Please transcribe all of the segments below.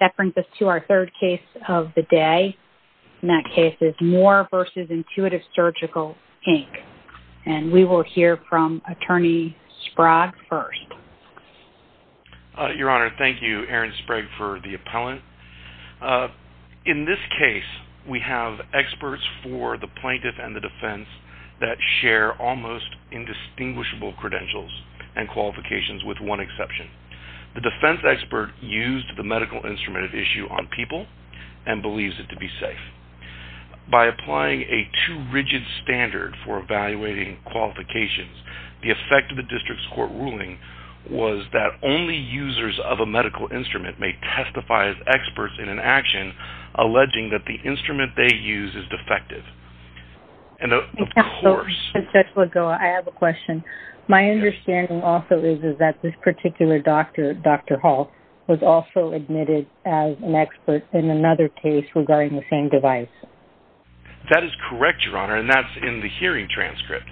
That brings us to our third case of the day. And that case is Moore v. Intuitive Surgical Inc. And we will hear from Attorney Sprague first. Your Honor, thank you, Erin Sprague for the appellant. In this case, we have experts for the plaintiff and the defense that share almost indistinguishable credentials and qualifications with one exception. The defense expert used the medical instrument at issue on people and believes it to be safe. By applying a too rigid standard for evaluating qualifications, the effect of the district's court ruling was that only users of a medical instrument may testify as experts in an action alleging that the instrument they use is defective. And of course- A couple of minutes ago, I have a question. My understanding also is that this particular doctor, Dr. Hall, was also admitted as an expert in another case regarding the same device. That is correct, Your Honor, and that's in the hearing transcript.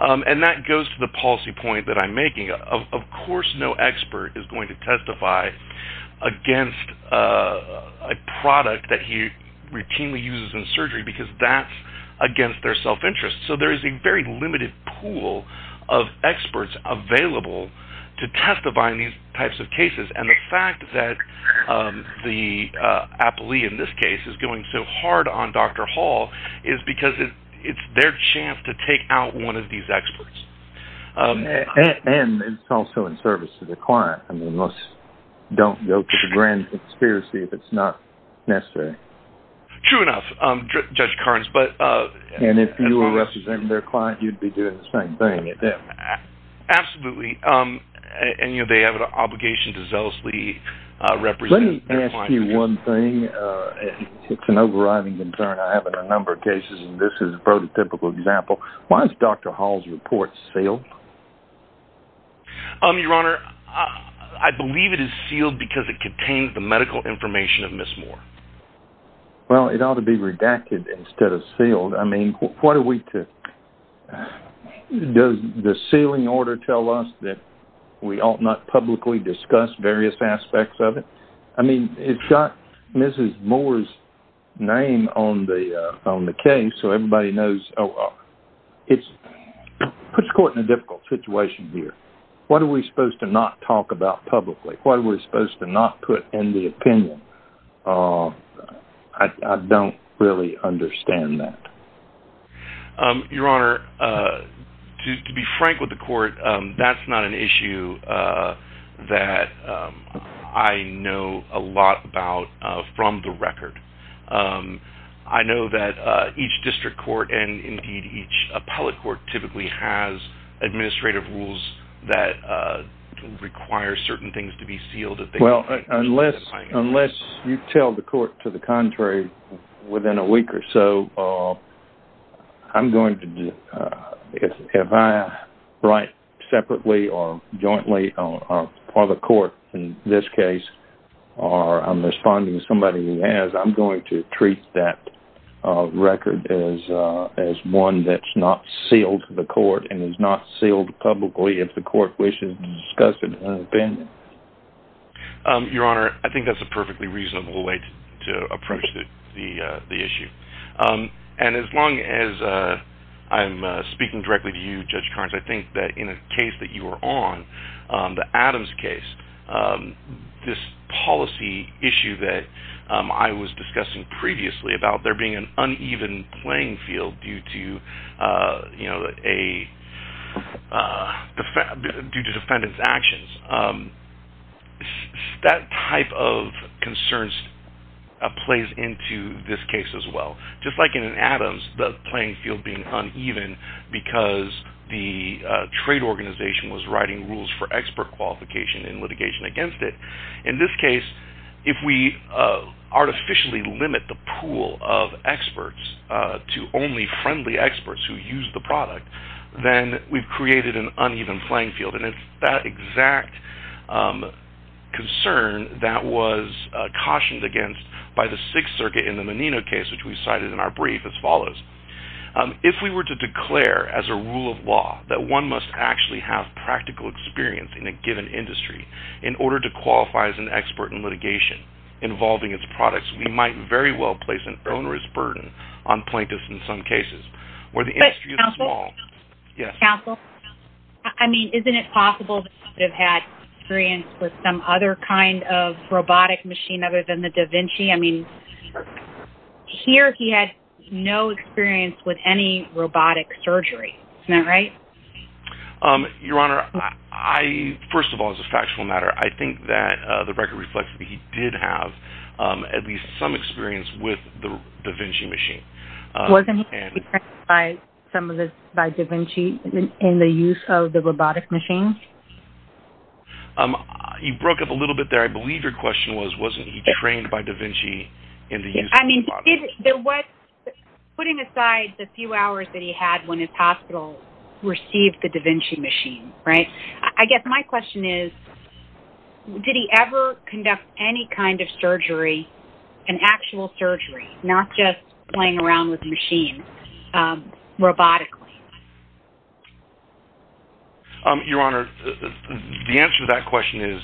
And that goes to the policy point that I'm making. Of course no expert is going to testify against a product that he routinely uses in surgery because that's against their self-interest. So there is a very limited pool of experts available to testify in these types of cases. And the fact that the appellee in this case is going so hard on Dr. Hall is because it's their chance to take out one of these experts. And it's also in service to the client. I mean, let's don't go to the grand conspiracy if it's not necessary. True enough, Judge Carnes, but- If this is in their client, you'd be doing the same thing with them. Absolutely, and you know, they have an obligation to zealously represent- Let me ask you one thing, it's an overriding concern. I have a number of cases and this is a prototypical example. Why is Dr. Hall's report sealed? Your Honor, I believe it is sealed because it contains the medical information of Ms. Moore. Well, it ought to be redacted instead of sealed. I mean, what are we to- Does the sealing order tell us that we ought not publicly discuss various aspects of it? I mean, it's got Mrs. Moore's name on the case, so everybody knows. It puts court in a difficult situation here. What are we supposed to not talk about publicly? What are we supposed to not put in the opinion? I don't really understand that. Your Honor, to be frank with the court, that's not an issue that I know a lot about from the record. I know that each district court and indeed each appellate court typically has administrative rules that require certain things to be sealed. Well, unless you tell the court to the contrary within a week or so, if I write separately or jointly on the court, in this case, or I'm responding to somebody who has, I'm going to treat that record as one that's not sealed to the court and is not sealed publicly if the court wishes to discuss it in an opinion. Your Honor, I think that's a perfectly reasonable way to approach the issue. And as long as I'm speaking directly to you, Judge Carnes, I think that in a case that you were on, the Adams case, this policy issue that I was discussing previously about there being an uneven playing field due to defendants' actions, that type of concerns plays into this case as well. Just like in Adams, the playing field being uneven because the trade organization was writing rules for expert qualification and litigation against it. In this case, if we artificially limit the pool of experts to only friendly experts who use the product, then we've created an uneven playing field. And it's that exact concern that was cautioned against by the Sixth Circuit in the Menino case, which we cited in our brief as follows. If we were to declare as a rule of law that one must actually have practical experience in a given industry in order to qualify as an expert in litigation involving its products, we might very well place an onerous burden on plaintiffs in some cases where the industry is small. Yeah. Counsel? I mean, isn't it possible that he would have had experience with some other kind of robotic machine other than the Da Vinci? I mean, here he had no experience with any robotic surgery, isn't that right? Your Honor, I, first of all, as a factual matter, I think that the record reflects that he did have at least some experience with the Da Vinci machine. Wasn't he trained by some of the, by Da Vinci in the use of the robotic machine? You broke up a little bit there. I believe your question was, wasn't he trained by Da Vinci in the use of the robot? I mean, did, there was, putting aside the few hours that he had when his hospital received the Da Vinci machine, right? I guess my question is, did he ever conduct any kind of surgery, an actual surgery, not just playing around with machines, robotically? Your Honor, the answer to that question is,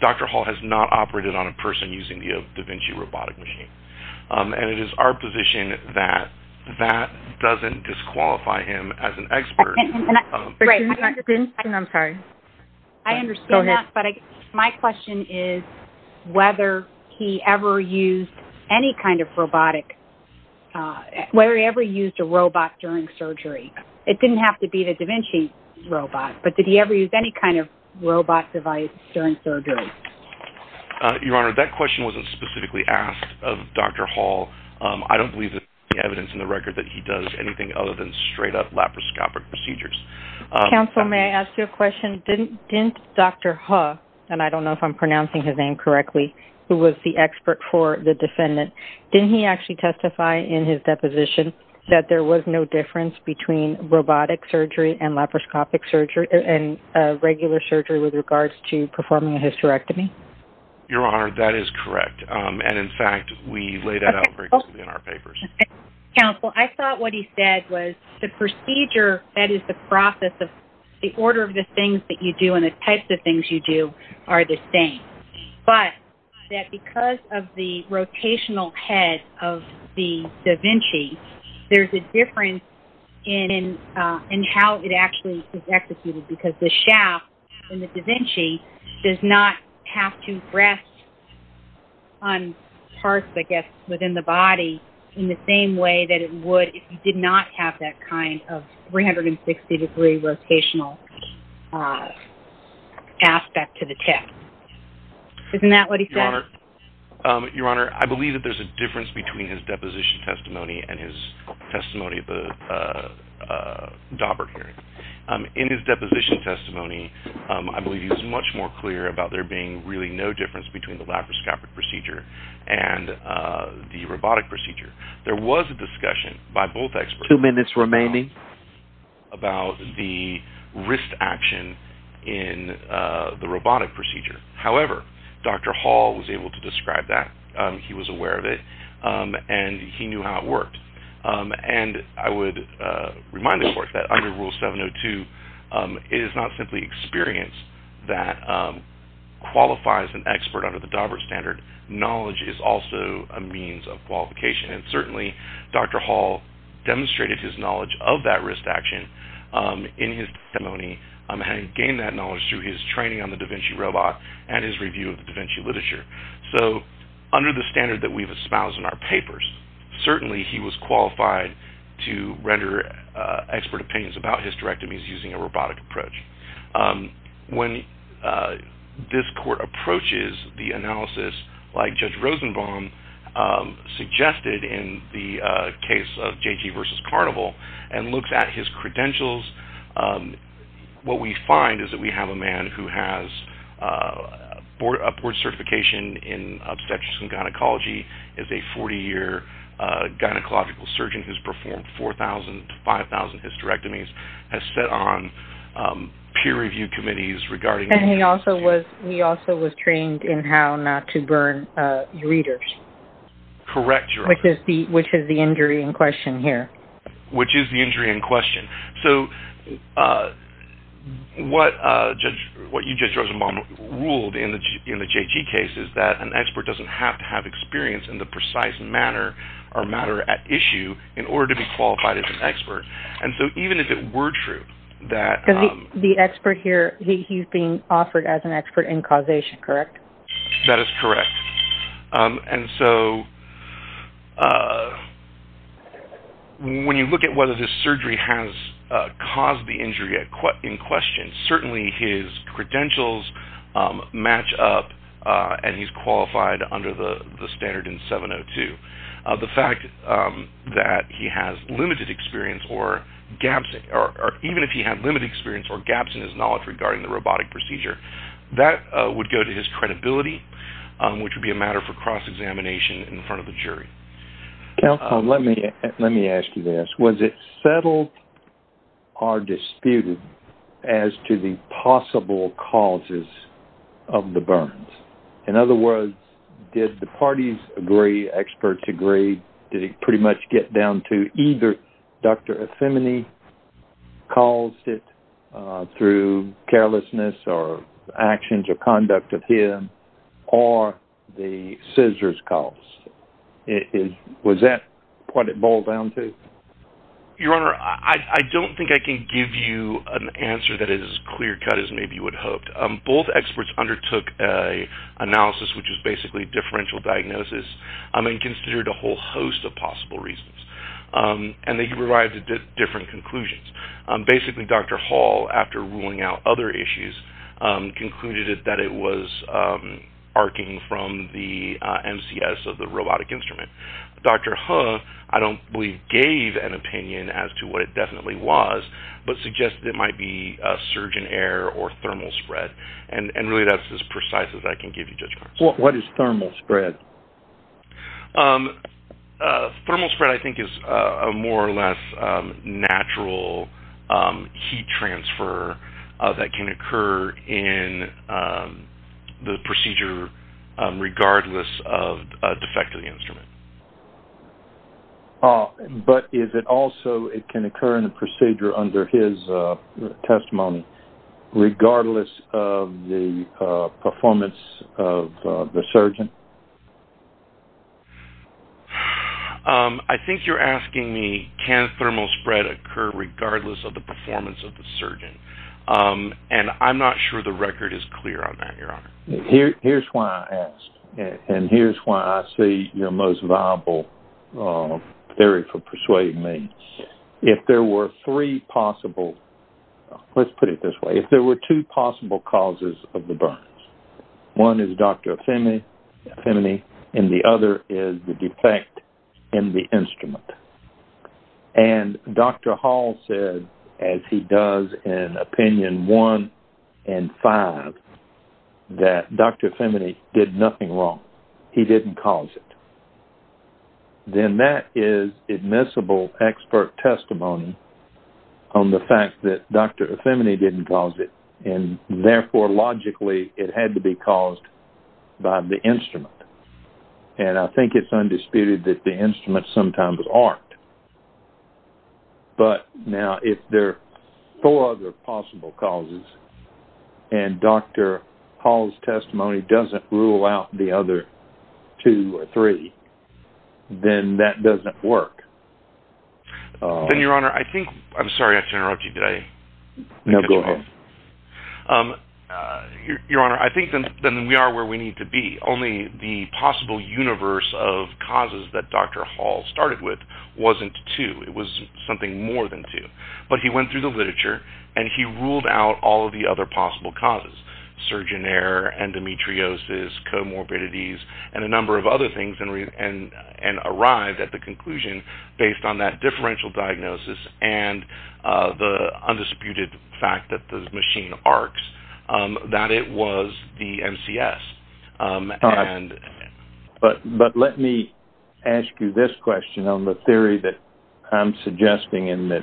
Dr. Hall has not operated on a person using the Da Vinci robotic machine. And it is our position that that doesn't disqualify him as an expert. And I, right, I'm sorry. I understand that, but my question is whether he ever used any kind of robotic, whether he ever used a robot during surgery. It didn't have to be the Da Vinci robot, but did he ever use any kind of robot device during surgery? Your Honor, that question wasn't specifically asked of Dr. Hall. I don't believe there's any evidence in the record that he does anything other than straight up laparoscopic procedures. Counsel, may I ask you a question? Didn't Dr. Hu, and I don't know if I'm pronouncing his name correctly, who was the expert for the defendant, didn't he actually testify in his deposition that there was no difference between robotic surgery and laparoscopic surgery, and regular surgery with regards to performing a hysterectomy? Your Honor, that is correct. And in fact, we laid that out very clearly in our papers. Counsel, I thought what he said was the procedure, that is the process of the order of the things that you do and the types of things you do are the same. But, that because of the rotational head of the Da Vinci, there's a difference in how it actually is executed because the shaft in the Da Vinci does not have to rest on parts, I guess, within the body in the same way that it would if you did not have that kind of 360 degree rotational aspect to the tip. Isn't that what he said? Your Honor, I believe that there's a difference between his deposition testimony and his testimony at the Daubert hearing. In his deposition testimony, I believe he was much more clear about there being really no difference between the laparoscopic procedure and the robotic procedure. There was a discussion by both experts. Two minutes remaining. About the wrist action in the robotic procedure. However, Dr. Hall was able to describe that. He was aware of it and he knew how it worked. And, I would remind the Court that under Rule 702, it is not simply experience that qualifies an expert under the Daubert standard. Knowledge is also a means of qualification. And certainly, Dr. Hall demonstrated his knowledge of that wrist action in his testimony and gained that knowledge through his training on the da Vinci robot and his review of the da Vinci literature. So, under the standard that we've espoused in our papers, certainly he was qualified to render expert opinions about hysterectomies using a robotic approach. When this Court approaches the analysis, like Judge Rosenbaum suggested in the case of J.G. versus Carnival and looks at his credentials, what we find is that we have a man who has a board certification in obstetrics and gynecology is a 40-year gynecological surgeon who's performed 4,000 to 5,000 hysterectomies, has sat on peer review committees regarding... And he also was trained in how not to burn ureters. Correct, Your Honor. Which is the injury in question here. Which is the injury in question. So, what you, Judge Rosenbaum, ruled in the J.G. case is that an expert doesn't have to have experience in the precise manner or matter at issue in order to be qualified as an expert. And so, even if it were true that... The expert here, he's being offered as an expert in causation, correct? That is correct. And so, when you look at whether this surgery has caused the injury in question, certainly his credentials match up and he's qualified under the standard in 702. The fact that he has limited experience or gaps, even if he had limited experience or gaps in his knowledge regarding the robotic procedure, that would go to his credibility, which would be a matter for cross-examination in front of the jury. Counsel, let me ask you this. Was it settled or disputed as to the possible causes of the burns? In other words, did the parties agree, experts agree? Did it pretty much get down to either Dr. Efemini caused it through carelessness or actions or conduct of him or the scissors caused it? Was that what it boiled down to? Your Honor, I don't think I can give you an answer that is as clear cut as maybe you would hope. Both experts undertook a analysis, which is basically differential diagnosis and considered a whole host of possible reasons. And they arrived at different conclusions. Basically, Dr. Hall, after ruling out other issues, concluded that it was arcing from the MCS of the robotic instrument. Dr. Huh, I don't believe gave an opinion as to what it definitely was, but suggested it might be a surge in air or thermal spread. And really that's as precise as I can give you, Judge Carson. What is thermal spread? Thermal spread, I think, is a more or less natural heat transfer that can occur in the procedure regardless of a defect of the instrument. But is it also, it can occur in the procedure under his testimony, regardless of the performance of the surgeon? I think you're asking me, can thermal spread occur regardless of the performance of the surgeon? And I'm not sure the record is clear on that, Your Honor. Here's why I ask, and here's why I see your most viable theory for persuading me. If there were three possible, let's put it this way. If there were two possible causes of the burns, one is Dr. Efemini, and the other is the defect in the instrument. And Dr. Hall said, as he does in opinion one and five, that Dr. Efemini did nothing wrong. He didn't cause it. Then that is admissible expert testimony on the fact that Dr. Efemini didn't cause it. And therefore, logically, it had to be caused by the instrument. And I think it's undisputed that the instruments sometimes aren't. But now, if there are four other possible causes, and Dr. Hall's testimony doesn't rule out the other two or three, then that doesn't work. Then, Your Honor, I think, I'm sorry, I have to interrupt you today. No, go ahead. Your Honor, I think then we are where we need to be. Only the possible universe of causes that Dr. Hall started with wasn't two. It was something more than two. But he went through the literature, and he ruled out all of the other possible causes. Surgeon error, endometriosis, comorbidities, and a number of other things, and arrived at the conclusion based on that differential diagnosis and the undisputed fact that the machine arcs, that it was the MCS. But let me ask you this question on the theory that I'm suggesting and that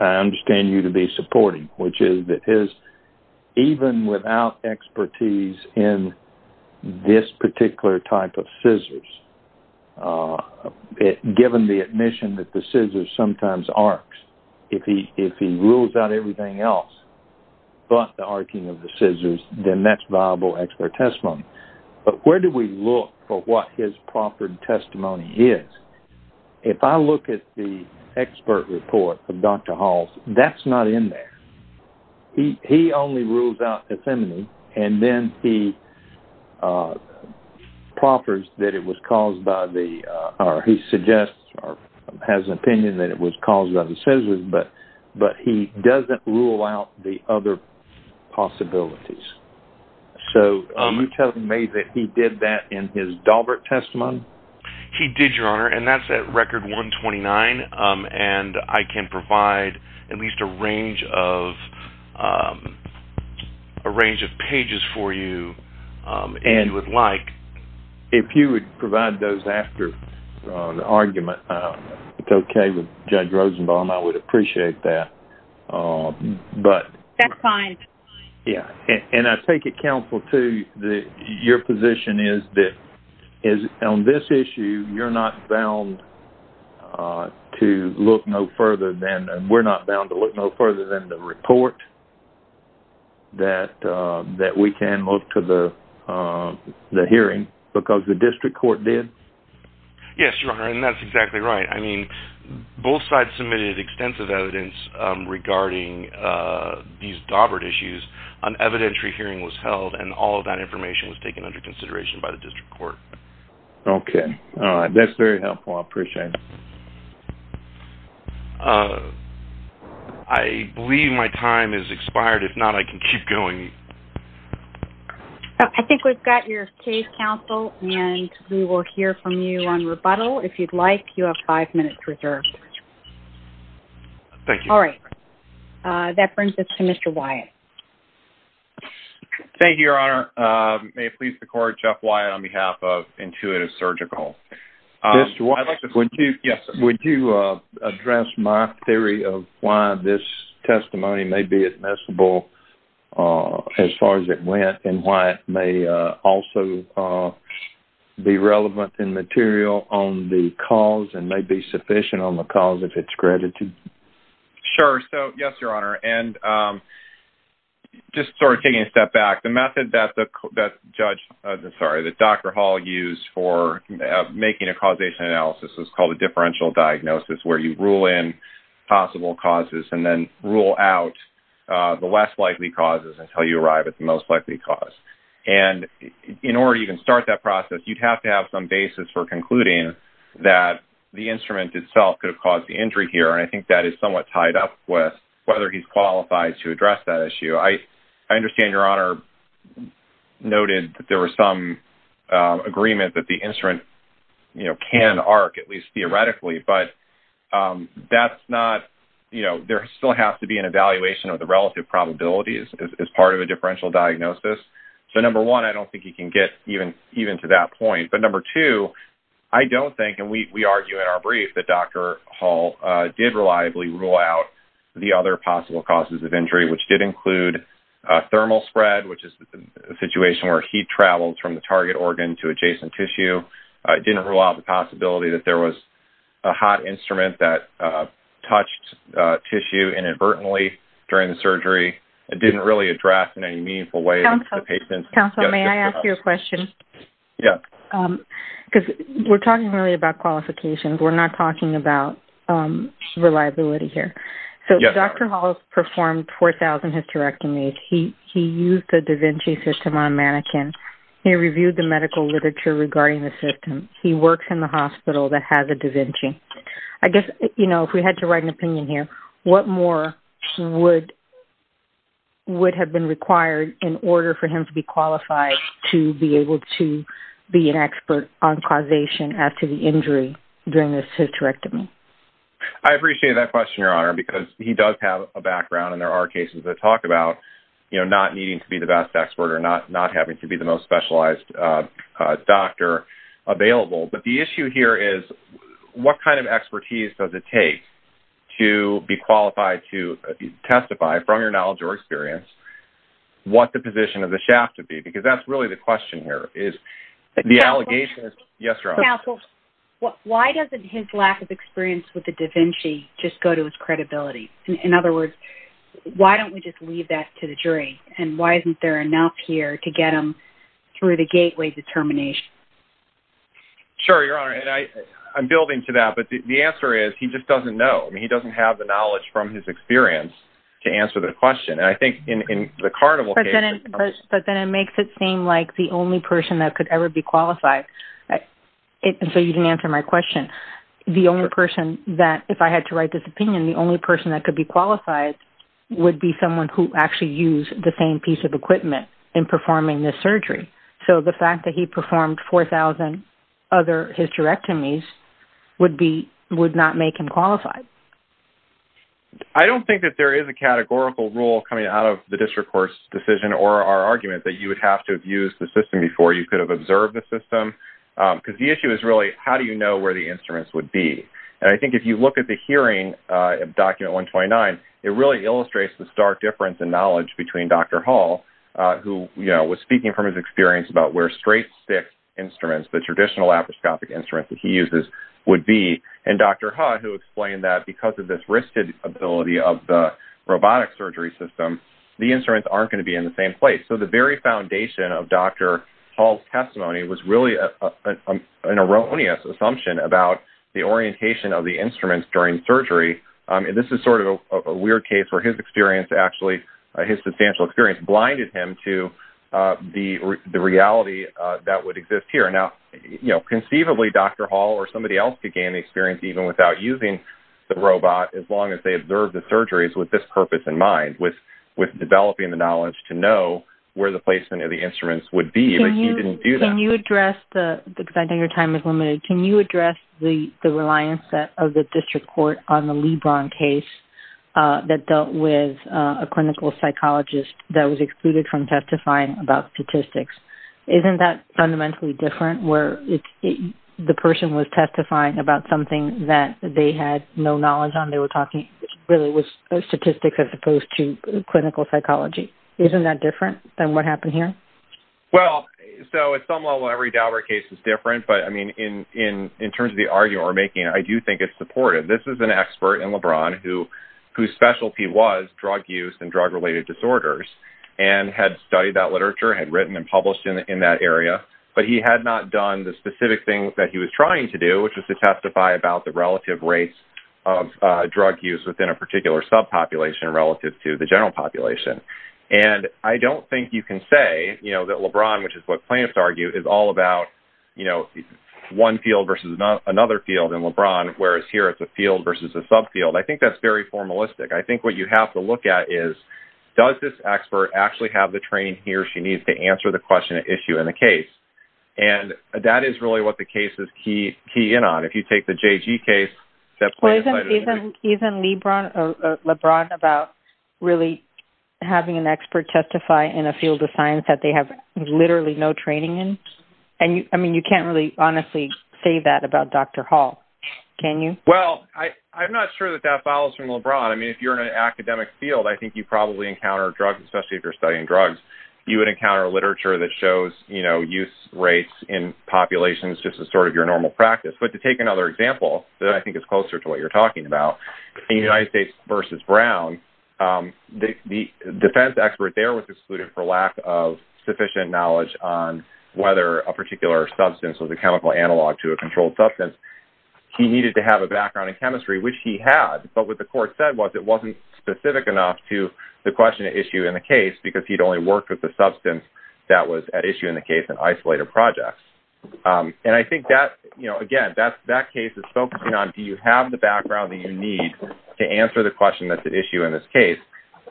I understand you to be supporting, which is that even without expertise in this particular type of scissors, given the admission that the scissors sometimes arcs, if he rules out everything else but the arcing of the scissors then that's viable expert testimony. But where do we look for what his proffered testimony is? If I look at the expert report of Dr. Hall's, that's not in there. He only rules out effeminate, and then he proffers that it was caused by the, or he suggests or has an opinion that it was caused by the scissors, but he doesn't rule out the other possibilities. So can you tell me that he did that in his Daubert testimony? He did, Your Honor, and that's at record 129. And I can provide at least a range of, a range of pages for you and would like. If you would provide those after the argument, it's okay with Judge Rosenbaum. I would appreciate that, but. That's fine. Yeah, and I take it, counsel, too, that your position is that on this issue, you're not bound to look no further than, we're not bound to look no further than the report that we can look to the hearing because the district court did? Yes, Your Honor, and that's exactly right. I mean, both sides submitted extensive evidence regarding these Daubert issues. An evidentiary hearing was held, and all of that information was taken under consideration by the district court. Okay, all right, that's very helpful. I appreciate it. I believe my time has expired. If not, I can keep going. I think we've got your case, counsel, and we will hear from you on rebuttal. If you'd like, you have five minutes reserved. Thank you. All right, that brings us to Mr. Wyatt. Thank you, Your Honor. May it please the court, Jeff Wyatt on behalf of Intuitive Surgical. I'd like to, yes. Would you address my theory of why this testimony may be admissible as far as it went, and why it may also be relevant and material on the cause and may be sufficient on the cause if it's credited? Sure, so yes, Your Honor, and just sort of taking a step back, the method that Judge, sorry, that Dr. Hall used for making a causation analysis was called a differential diagnosis where you rule in possible causes and then rule out the less likely causes until you arrive at the most likely cause. And in order to even start that process, you'd have to have some basis for concluding that the instrument itself could have caused the injury here, and I think that is somewhat tied up with whether he's qualified to address that issue. I understand Your Honor noted that there was some agreement that the instrument can arc, at least theoretically, but that's not, you know, there still has to be an evaluation of the relative probabilities as part of a differential diagnosis. So number one, I don't think he can get even to that point. But number two, I don't think, and we argue in our brief, that Dr. Hall did reliably rule out the other possible causes of injury, which did include thermal spread, which is a situation where heat traveled from the target organ to adjacent tissue. It didn't rule out the possibility that there was a hot instrument that touched tissue inadvertently during the surgery. It didn't really address in any meaningful way the patient. Counsel, may I ask you a question? Yeah. Because we're talking really about qualifications. We're not talking about reliability here. So Dr. Hall performed 4,000 hysterectomies. He used the da Vinci system on a mannequin. He reviewed the medical literature regarding the system. He works in the hospital that has a da Vinci. I guess, you know, if we had to write an opinion here, what more would have been required in order for him to be qualified to be able to be an expert on causation after the injury during the hysterectomy? I appreciate that question, Your Honor, because he does have a background, and there are cases that talk about, you know, not needing to be the best expert or not having to be the most specialized doctor available. But the issue here is what kind of expertise does it take to be qualified to testify, from your knowledge or experience, what the position of the shaft would be? Because that's really the question here, is the allegation is... Yes, Your Honor. Why doesn't his lack of experience with the da Vinci just go to his credibility? In other words, why don't we just leave that to the jury? And why isn't there enough here to get him through the gateway determination? Sure, Your Honor, and I'm building to that, but the answer is he just doesn't know. I mean, he doesn't have the knowledge from his experience to answer the question. And I think in the carnival case... But then it makes it seem like the only person that could ever be qualified... And so you didn't answer my question. The only person that, if I had to write this opinion, the only person that could be qualified would be someone who actually used the same piece of equipment in performing this surgery. So the fact that he performed 4,000 other hysterectomies would not make him qualified. I don't think that there is a categorical rule coming out of the district court's decision or our argument that you would have to have used the system before you could have observed the system. Because the issue is really, how do you know where the instruments would be? And I think if you look at the hearing of Document 129, it really illustrates the stark difference in knowledge between Dr. Hall, who was speaking from his experience about where straight stick instruments, the traditional laparoscopic instruments that he uses, would be, and Dr. Ha, who explained that because of this wristed ability of the robotic surgery system, the instruments aren't gonna be in the same place. So the very foundation of Dr. Hall's testimony was really an erroneous assumption about the orientation of the instruments during surgery. And this is sort of a weird case where his experience, actually, his substantial experience, blinded him to the reality that would exist here. Now, conceivably, Dr. Hall or somebody else could gain the experience even without using the robot as long as they observed the surgeries with this purpose in mind, with developing the knowledge to know where the placement of the instruments would be, but he didn't do that. Can you address, because I think your time is limited, can you address the reliance of the district court on the Lebron case that dealt with a clinical psychologist that was excluded from testifying about statistics? Isn't that fundamentally different where the person was testifying about something that they had no knowledge on? They were talking really with statistics as opposed to clinical psychology. Isn't that different than what happened here? Well, so at some level, every Daubert case is different, but I mean, in terms of the argument we're making, I do think it's supportive. This is an expert in Lebron whose specialty was drug use and drug-related disorders and had studied that literature, had written and published in that area, but he had not done the specific thing that he was trying to do, which was to testify about the relative rates of drug use within a particular subpopulation relative to the general population. And I don't think you can say that Lebron, which is what plaintiffs argue, is all about one field versus another field in Lebron, whereas here it's a field versus a subfield. I think that's very formalistic. I think what you have to look at is, does this expert actually have the training he or she needs to answer the question at issue in the case? And that is really what the case is key in on. If you take the JG case that plaintiff cited- Isn't Lebron about really having an expert testify in a field of science that they have literally no training in? And I mean, you can't really honestly say that about Dr. Hall, can you? Well, I'm not sure that that follows from Lebron. I mean, if you're in an academic field, I think you probably encounter drugs, especially if you're studying drugs. You would encounter literature that shows use rates in populations just as sort of your normal practice. But to take another example that I think is closer to what you're talking about, in United States versus Brown, the defense expert there was excluded for lack of sufficient knowledge on whether a particular substance was a chemical analog to a controlled substance. He needed to have a background in chemistry, which he had. But what the court said was it wasn't specific enough to the question at issue in the case because he'd only worked with the substance that was at issue in the case in isolated projects. And I think that, again, that case is focusing on, do you have the background that you need to answer the question at issue in this case?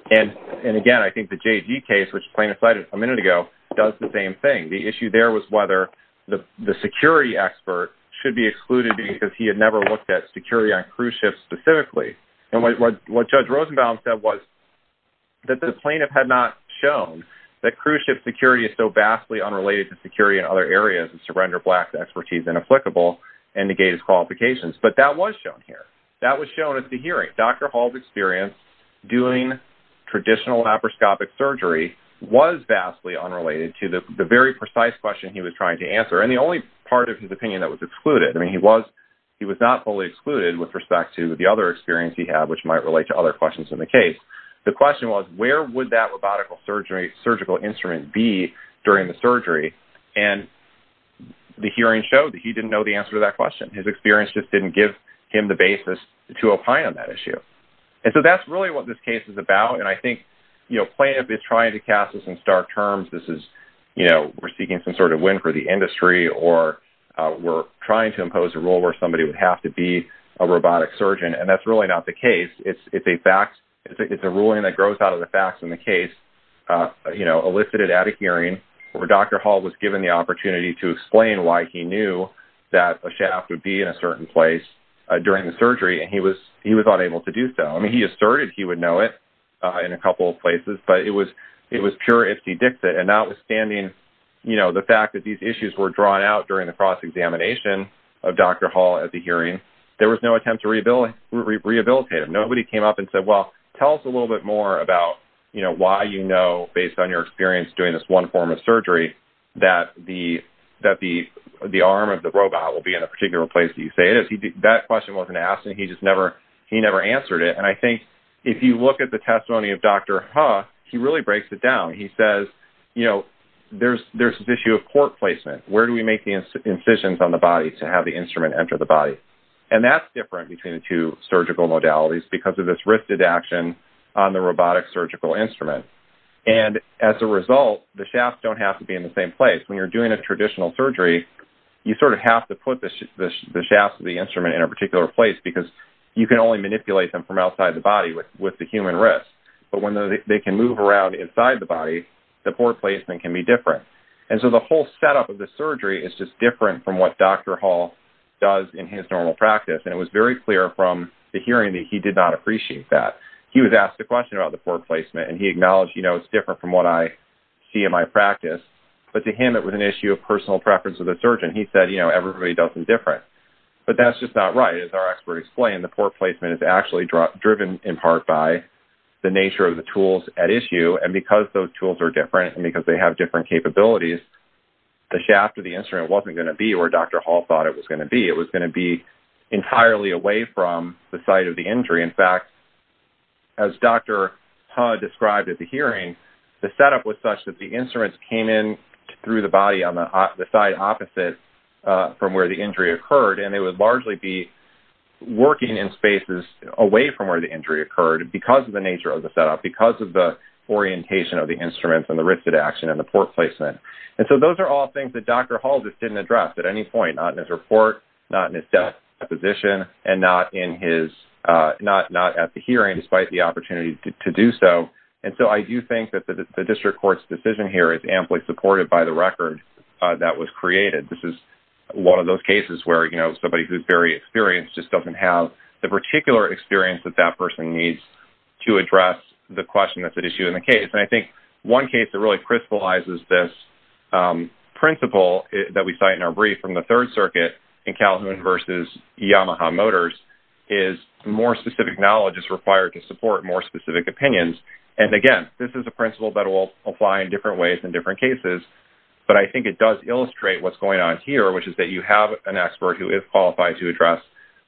And again, I think the JG case, which plaintiff cited a minute ago, does the same thing. The issue there was whether the security expert should be excluded because he had never looked at security on cruise ships specifically. And what Judge Rosenbaum said was that the plaintiff had not shown that cruise ship security is so vastly unrelated to security in other areas and surrender black expertise inapplicable and negate his qualifications. But that was shown here. That was shown at the hearing. Dr. Hall's experience doing traditional laparoscopic surgery was vastly unrelated to the very precise question he was trying to answer. And the only part of his opinion that was excluded, I mean, he was not fully excluded with respect to the other experience he had, which might relate to other questions in the case. The question was, where would that robotical surgery, surgical instrument be during the surgery? And the hearing showed that he didn't know the answer to that question. His experience just didn't give him the basis to opine on that issue. And so that's really what this case is about. And I think plaintiff is trying to cast this in stark terms. This is, we're seeking some sort of win for the industry or we're trying to impose a rule where somebody would have to be a robotic surgeon. And that's really not the case. It's a ruling that grows out of the facts in the case, elicited at a hearing where Dr. Hall was given the opportunity to explain why he knew that a shaft would be in a certain place during the surgery. And he was unable to do so. I mean, he asserted he would know it in a couple of places, but it was pure if he dicks it. And notwithstanding the fact that these issues were drawn out during the cross-examination of Dr. Hall at the hearing, there was no attempt to rehabilitate him. Nobody came up and said, well, tell us a little bit more about why you know, based on your experience doing this one form of surgery, that the arm of the robot will be in a particular place. Do you say it? That question wasn't asked and he just never, he never answered it. And I think if you look at the testimony of Dr. Hall, he really breaks it down. He says, you know, there's this issue of court placement. Where do we make the incisions on the body to have the instrument enter the body? And that's different between the two surgical modalities because of this wristed action on the robotic surgical instrument. And as a result, the shafts don't have to be in the same place. When you're doing a traditional surgery, you sort of have to put the shafts of the instrument in a particular place because you can only manipulate them from outside the body with the human wrist. But when they can move around inside the body, the court placement can be different. And so the whole setup of the surgery is just different from what Dr. Hall does in his normal practice. And it was very clear from the hearing that he did not appreciate that. He was asked a question about the court placement and he acknowledged, you know, it's different from what I see in my practice. But to him, it was an issue of personal preference of the surgeon. He said, you know, everybody does them different. But that's just not right. As our expert explained, the court placement is actually driven in part by the nature of the tools at issue. And because those tools are different and because they have different capabilities, the shaft of the instrument wasn't gonna be where Dr. Hall thought it was gonna be. It was gonna be entirely away from the site of the injury. In fact, as Dr. Ha described at the hearing, the setup was such that the instruments came in through the body on the side opposite from where the injury occurred. And they would largely be working in spaces away from where the injury occurred because of the nature of the setup, because of the orientation of the instruments and the wristed action and the port placement. And so those are all things that Dr. Hall just didn't address at any point, not in his report, not in his death deposition, and not at the hearing despite the opportunity to do so. And so I do think that the district court's decision here is amply supported by the record that was created. This is one of those cases where somebody who's very experienced just doesn't have the particular experience that that person needs to address the question that's at issue in the case. And I think one case that really crystallizes this principle that we cite in our brief from the Third Circuit in Calhoun versus Yamaha Motors is more specific knowledge is required to support more specific opinions. And again, this is a principle that will apply in different ways in different cases, but I think it does illustrate what's going on here, which is that you have an expert who is qualified to address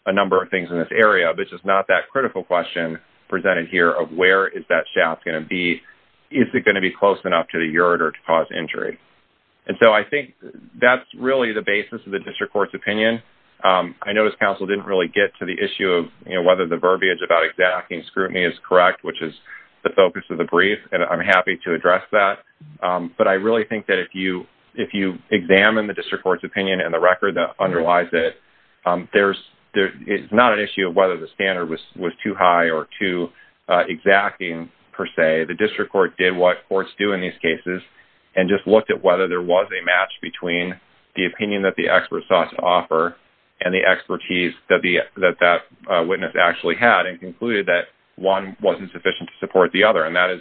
a number of things in this area, but it's just not that critical question presented here of where is that shaft gonna be? Is it gonna be close enough to the ureter to cause injury? And so I think that's really the basis of the district court's opinion. I noticed counsel didn't really get to the issue of whether the verbiage about exacting scrutiny is correct, which is the focus of the brief, and I'm happy to address that. But I really think that if you examine the district court's opinion and the record that underlies it, it's not an issue of whether the standard was too high or too exacting per se. The district court did what courts do in these cases and just looked at whether there was a match between the opinion that the expert sought to offer and the expertise that that witness actually had and concluded that one wasn't sufficient to support the other, and that is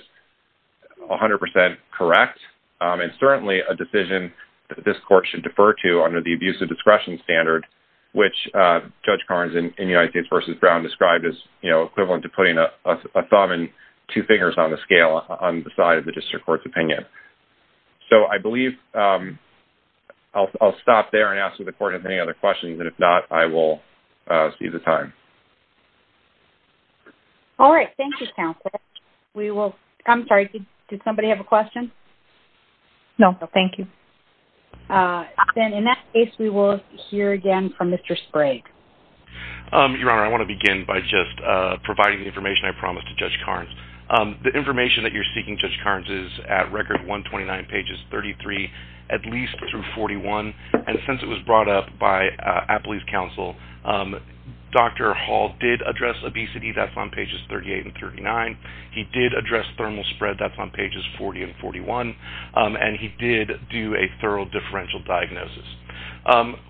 100% correct. It's certainly a decision that this court should defer to under the abuse of discretion standard, which Judge Carnes in United States versus Brown described as equivalent to putting a thumb and two fingers on the scale on the side of the district court's opinion. So I believe I'll stop there and ask if the court has any other questions, and if not, I will seize the time. All right, thank you, Counselor. We will, I'm sorry, did somebody have a question? No, thank you. Then in that case, we will hear again from Mr. Sprague. Your Honor, I want to begin by just providing the information I promised to Judge Carnes. The information that you're seeking, Judge Carnes, is at record 129 pages 33, at least through 41, and since it was brought up by Appley's counsel, Dr. Hall did address obesity. That's on pages 38 and 39. He did address thermal spread. That's on pages 40 and 41, and he did do a thorough differential diagnosis.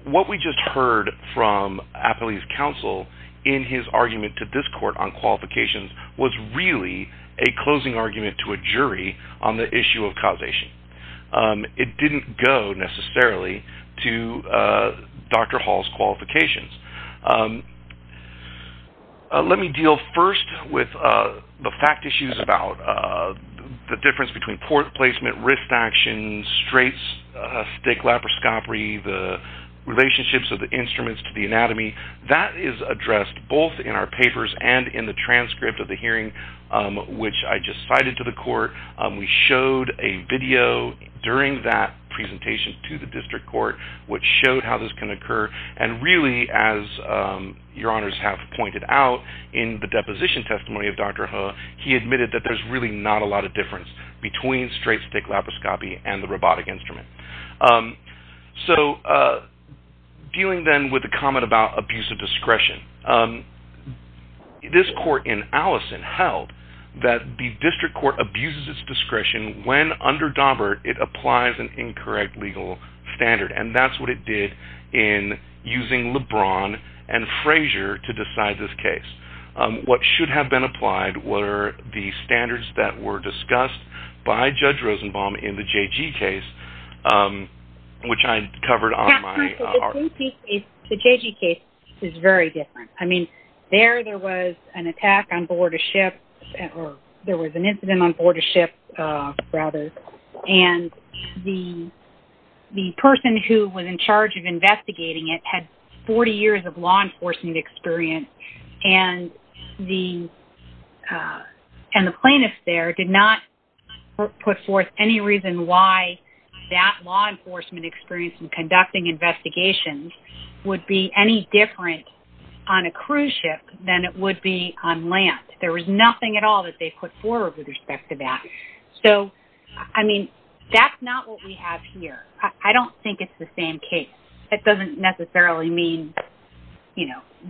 What we just heard from Appley's counsel in his argument to this court on qualifications was really a closing argument to a jury on the issue of causation. It didn't go necessarily to Dr. Hall's qualifications. Let me deal first with the fact issues about the difference between port placement, wrist action, straight stick laparoscopy, the relationships of the instruments to the anatomy. That is addressed both in our papers and in the transcript of the hearing, which I just cited to the court. We showed a video during that presentation to the district court, which showed how this can occur, and really, as your honors have pointed out in the deposition testimony of Dr. Hall, he admitted that there's really not a lot of difference between straight stick laparoscopy and the robotic instrument. So dealing then with the comment about abuse of discretion, this court in Allison held that the district court abuses its discretion when under Daubert it applies an incorrect legal standard, and that's what it did in using LeBron and Frazier to decide this case. What should have been applied were the standards that were discussed by Judge Rosenbaum in the JG case, which I covered on my article. The JG case is very different. I mean, there, there was an attack on board a ship, or there was an incident on board a ship, rather, and the person who was in charge of investigating it had 40 years of law enforcement experience, and the plaintiff there did not put forth any reason why that law enforcement experience in conducting investigations would be any different on a cruise ship than it would be on land. There was nothing at all that they put forward with respect to that. So, I mean, that's not what we have here. I don't think it's the same case. It doesn't necessarily mean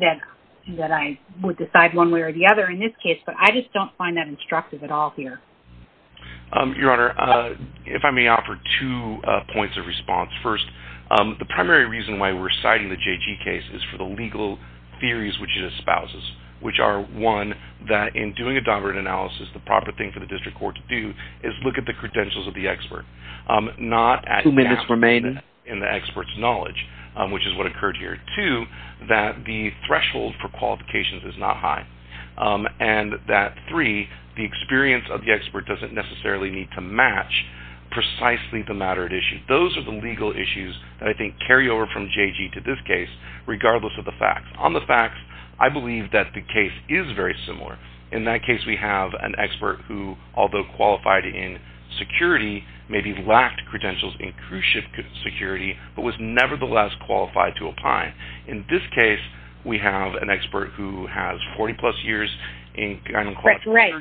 that I would decide one way or the other in this case, but I just don't find that instructive at all here. Your Honor, if I may offer two points of response. First, the primary reason why we're citing the JG case is for the legal theories which it espouses, which are, one, that in doing a Daubert analysis, the proper thing for the district court to do is look at the credentials of the expert, not at gaps in the expert's knowledge, which is what occurred here. Two, that the threshold for qualifications is not high, and that, three, the experience of the expert doesn't necessarily need to match precisely the matter at issue. Those are the legal issues that I think carry over from JG to this case, regardless of the facts. On the facts, I believe that the case is very similar. In that case, we have an expert who, although qualified in security, maybe lacked credentials in cruise ship security, but was nevertheless qualified to apply. In this case, we have an expert who has 40-plus years in gun and clutch. Right,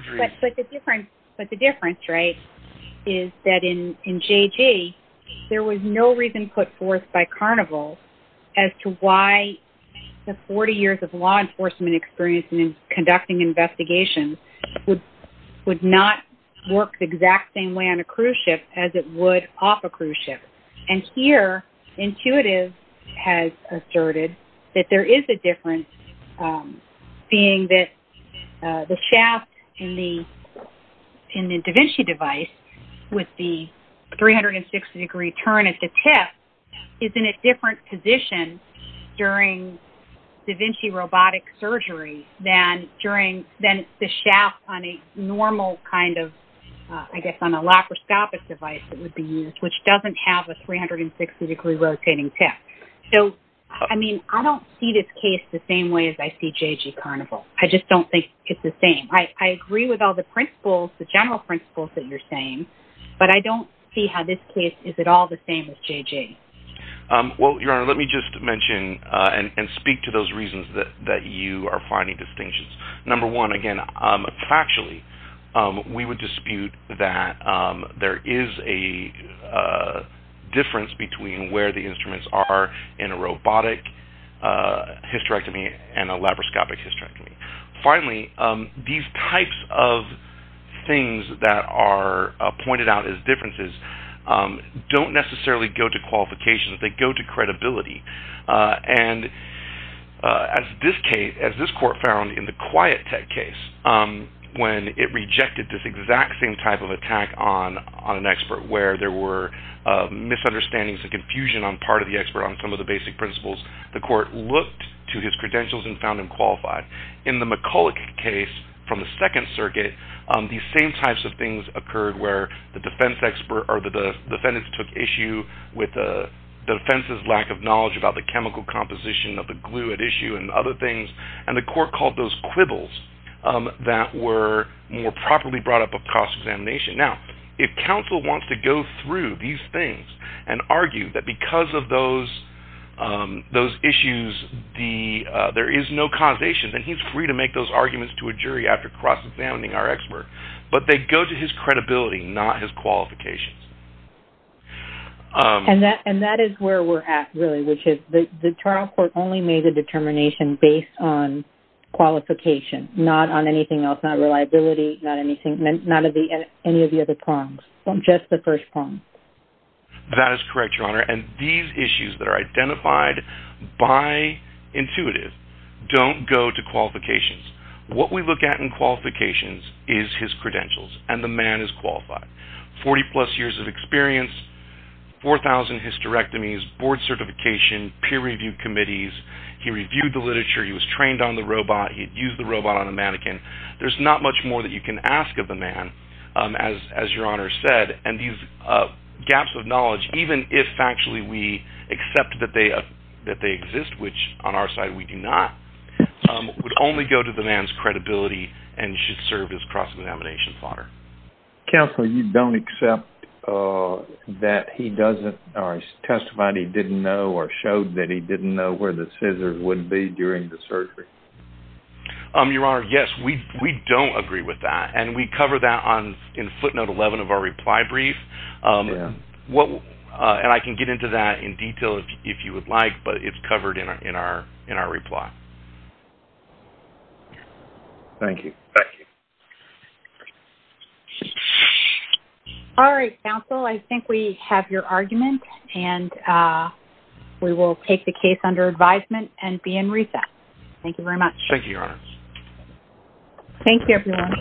but the difference, right, is that in JG, there was no reason put forth by Carnival as to why the 40 years of law enforcement experience in conducting investigations would not work the exact same way on a cruise ship as it would off a cruise ship. And here, intuitive has asserted that there is a difference, being that the shaft in the da Vinci device with the 360-degree turn at the tip is in a different position during da Vinci robotic surgery than the shaft on a normal kind of, I guess on a laparoscopic device that would be used, which doesn't have a 360-degree rotating tip. So, I mean, I don't see this case the same way as I see JG Carnival. I just don't think it's the same. I agree with all the principles, the general principles that you're saying, but I don't see how this case is at all the same as JG. Well, Your Honor, let me just mention and speak to those reasons that you are finding distinctions. Number one, again, factually, we would dispute that there is a difference between where the instruments are in a robotic hysterectomy and a laparoscopic hysterectomy. Finally, these types of things that are pointed out as differences don't necessarily go to qualifications. They go to credibility. And as this court found in the Quiet Tech case, when it rejected this exact same type of attack on an expert where there were misunderstandings and confusion on part of the expert on some of the basic principles, the court looked to his credentials and found him qualified. In the McCulloch case from the Second Circuit, these same types of things occurred where the defendants took issue with the defense's lack of knowledge about the chemical composition of the glue at issue and other things, and the court called those quibbles that were more properly brought up of cross-examination. Now, if counsel wants to go through these things and argue that because of those issues, there is no causation, then he's free to make those arguments to a jury after cross-examining our expert, but they go to his credibility, not his qualifications. And that is where we're at, really, which is the trial court only made the determination based on qualification, not on anything else, not reliability, not any of the other prongs, just the first prong. That is correct, Your Honor. And these issues that are identified by intuitive don't go to qualifications. What we look at in qualifications is his credentials and the man is qualified. 40 plus years of experience, 4,000 hysterectomies, board certification, peer review committees. He reviewed the literature. He was trained on the robot. He'd used the robot on a mannequin. There's not much more that you can ask of the man, as Your Honor said, and these gaps of knowledge, even if actually we accept that they exist, which on our side we do not, would only go to the man's credibility and should serve as cross-examination fodder. Counsel, you don't accept that he doesn't, or he testified he didn't know or showed that he didn't know where the scissors would be during the surgery? Your Honor, yes, we don't agree with that, and we cover that in footnote 11 of our reply brief. And I can get into that in detail if you would like, but it's covered in our reply. Thank you. Thank you. All right, counsel, I think we have your argument, and we will take the case under advisement and be in recess. Thank you very much. Thank you, Your Honor. Thank you, everyone.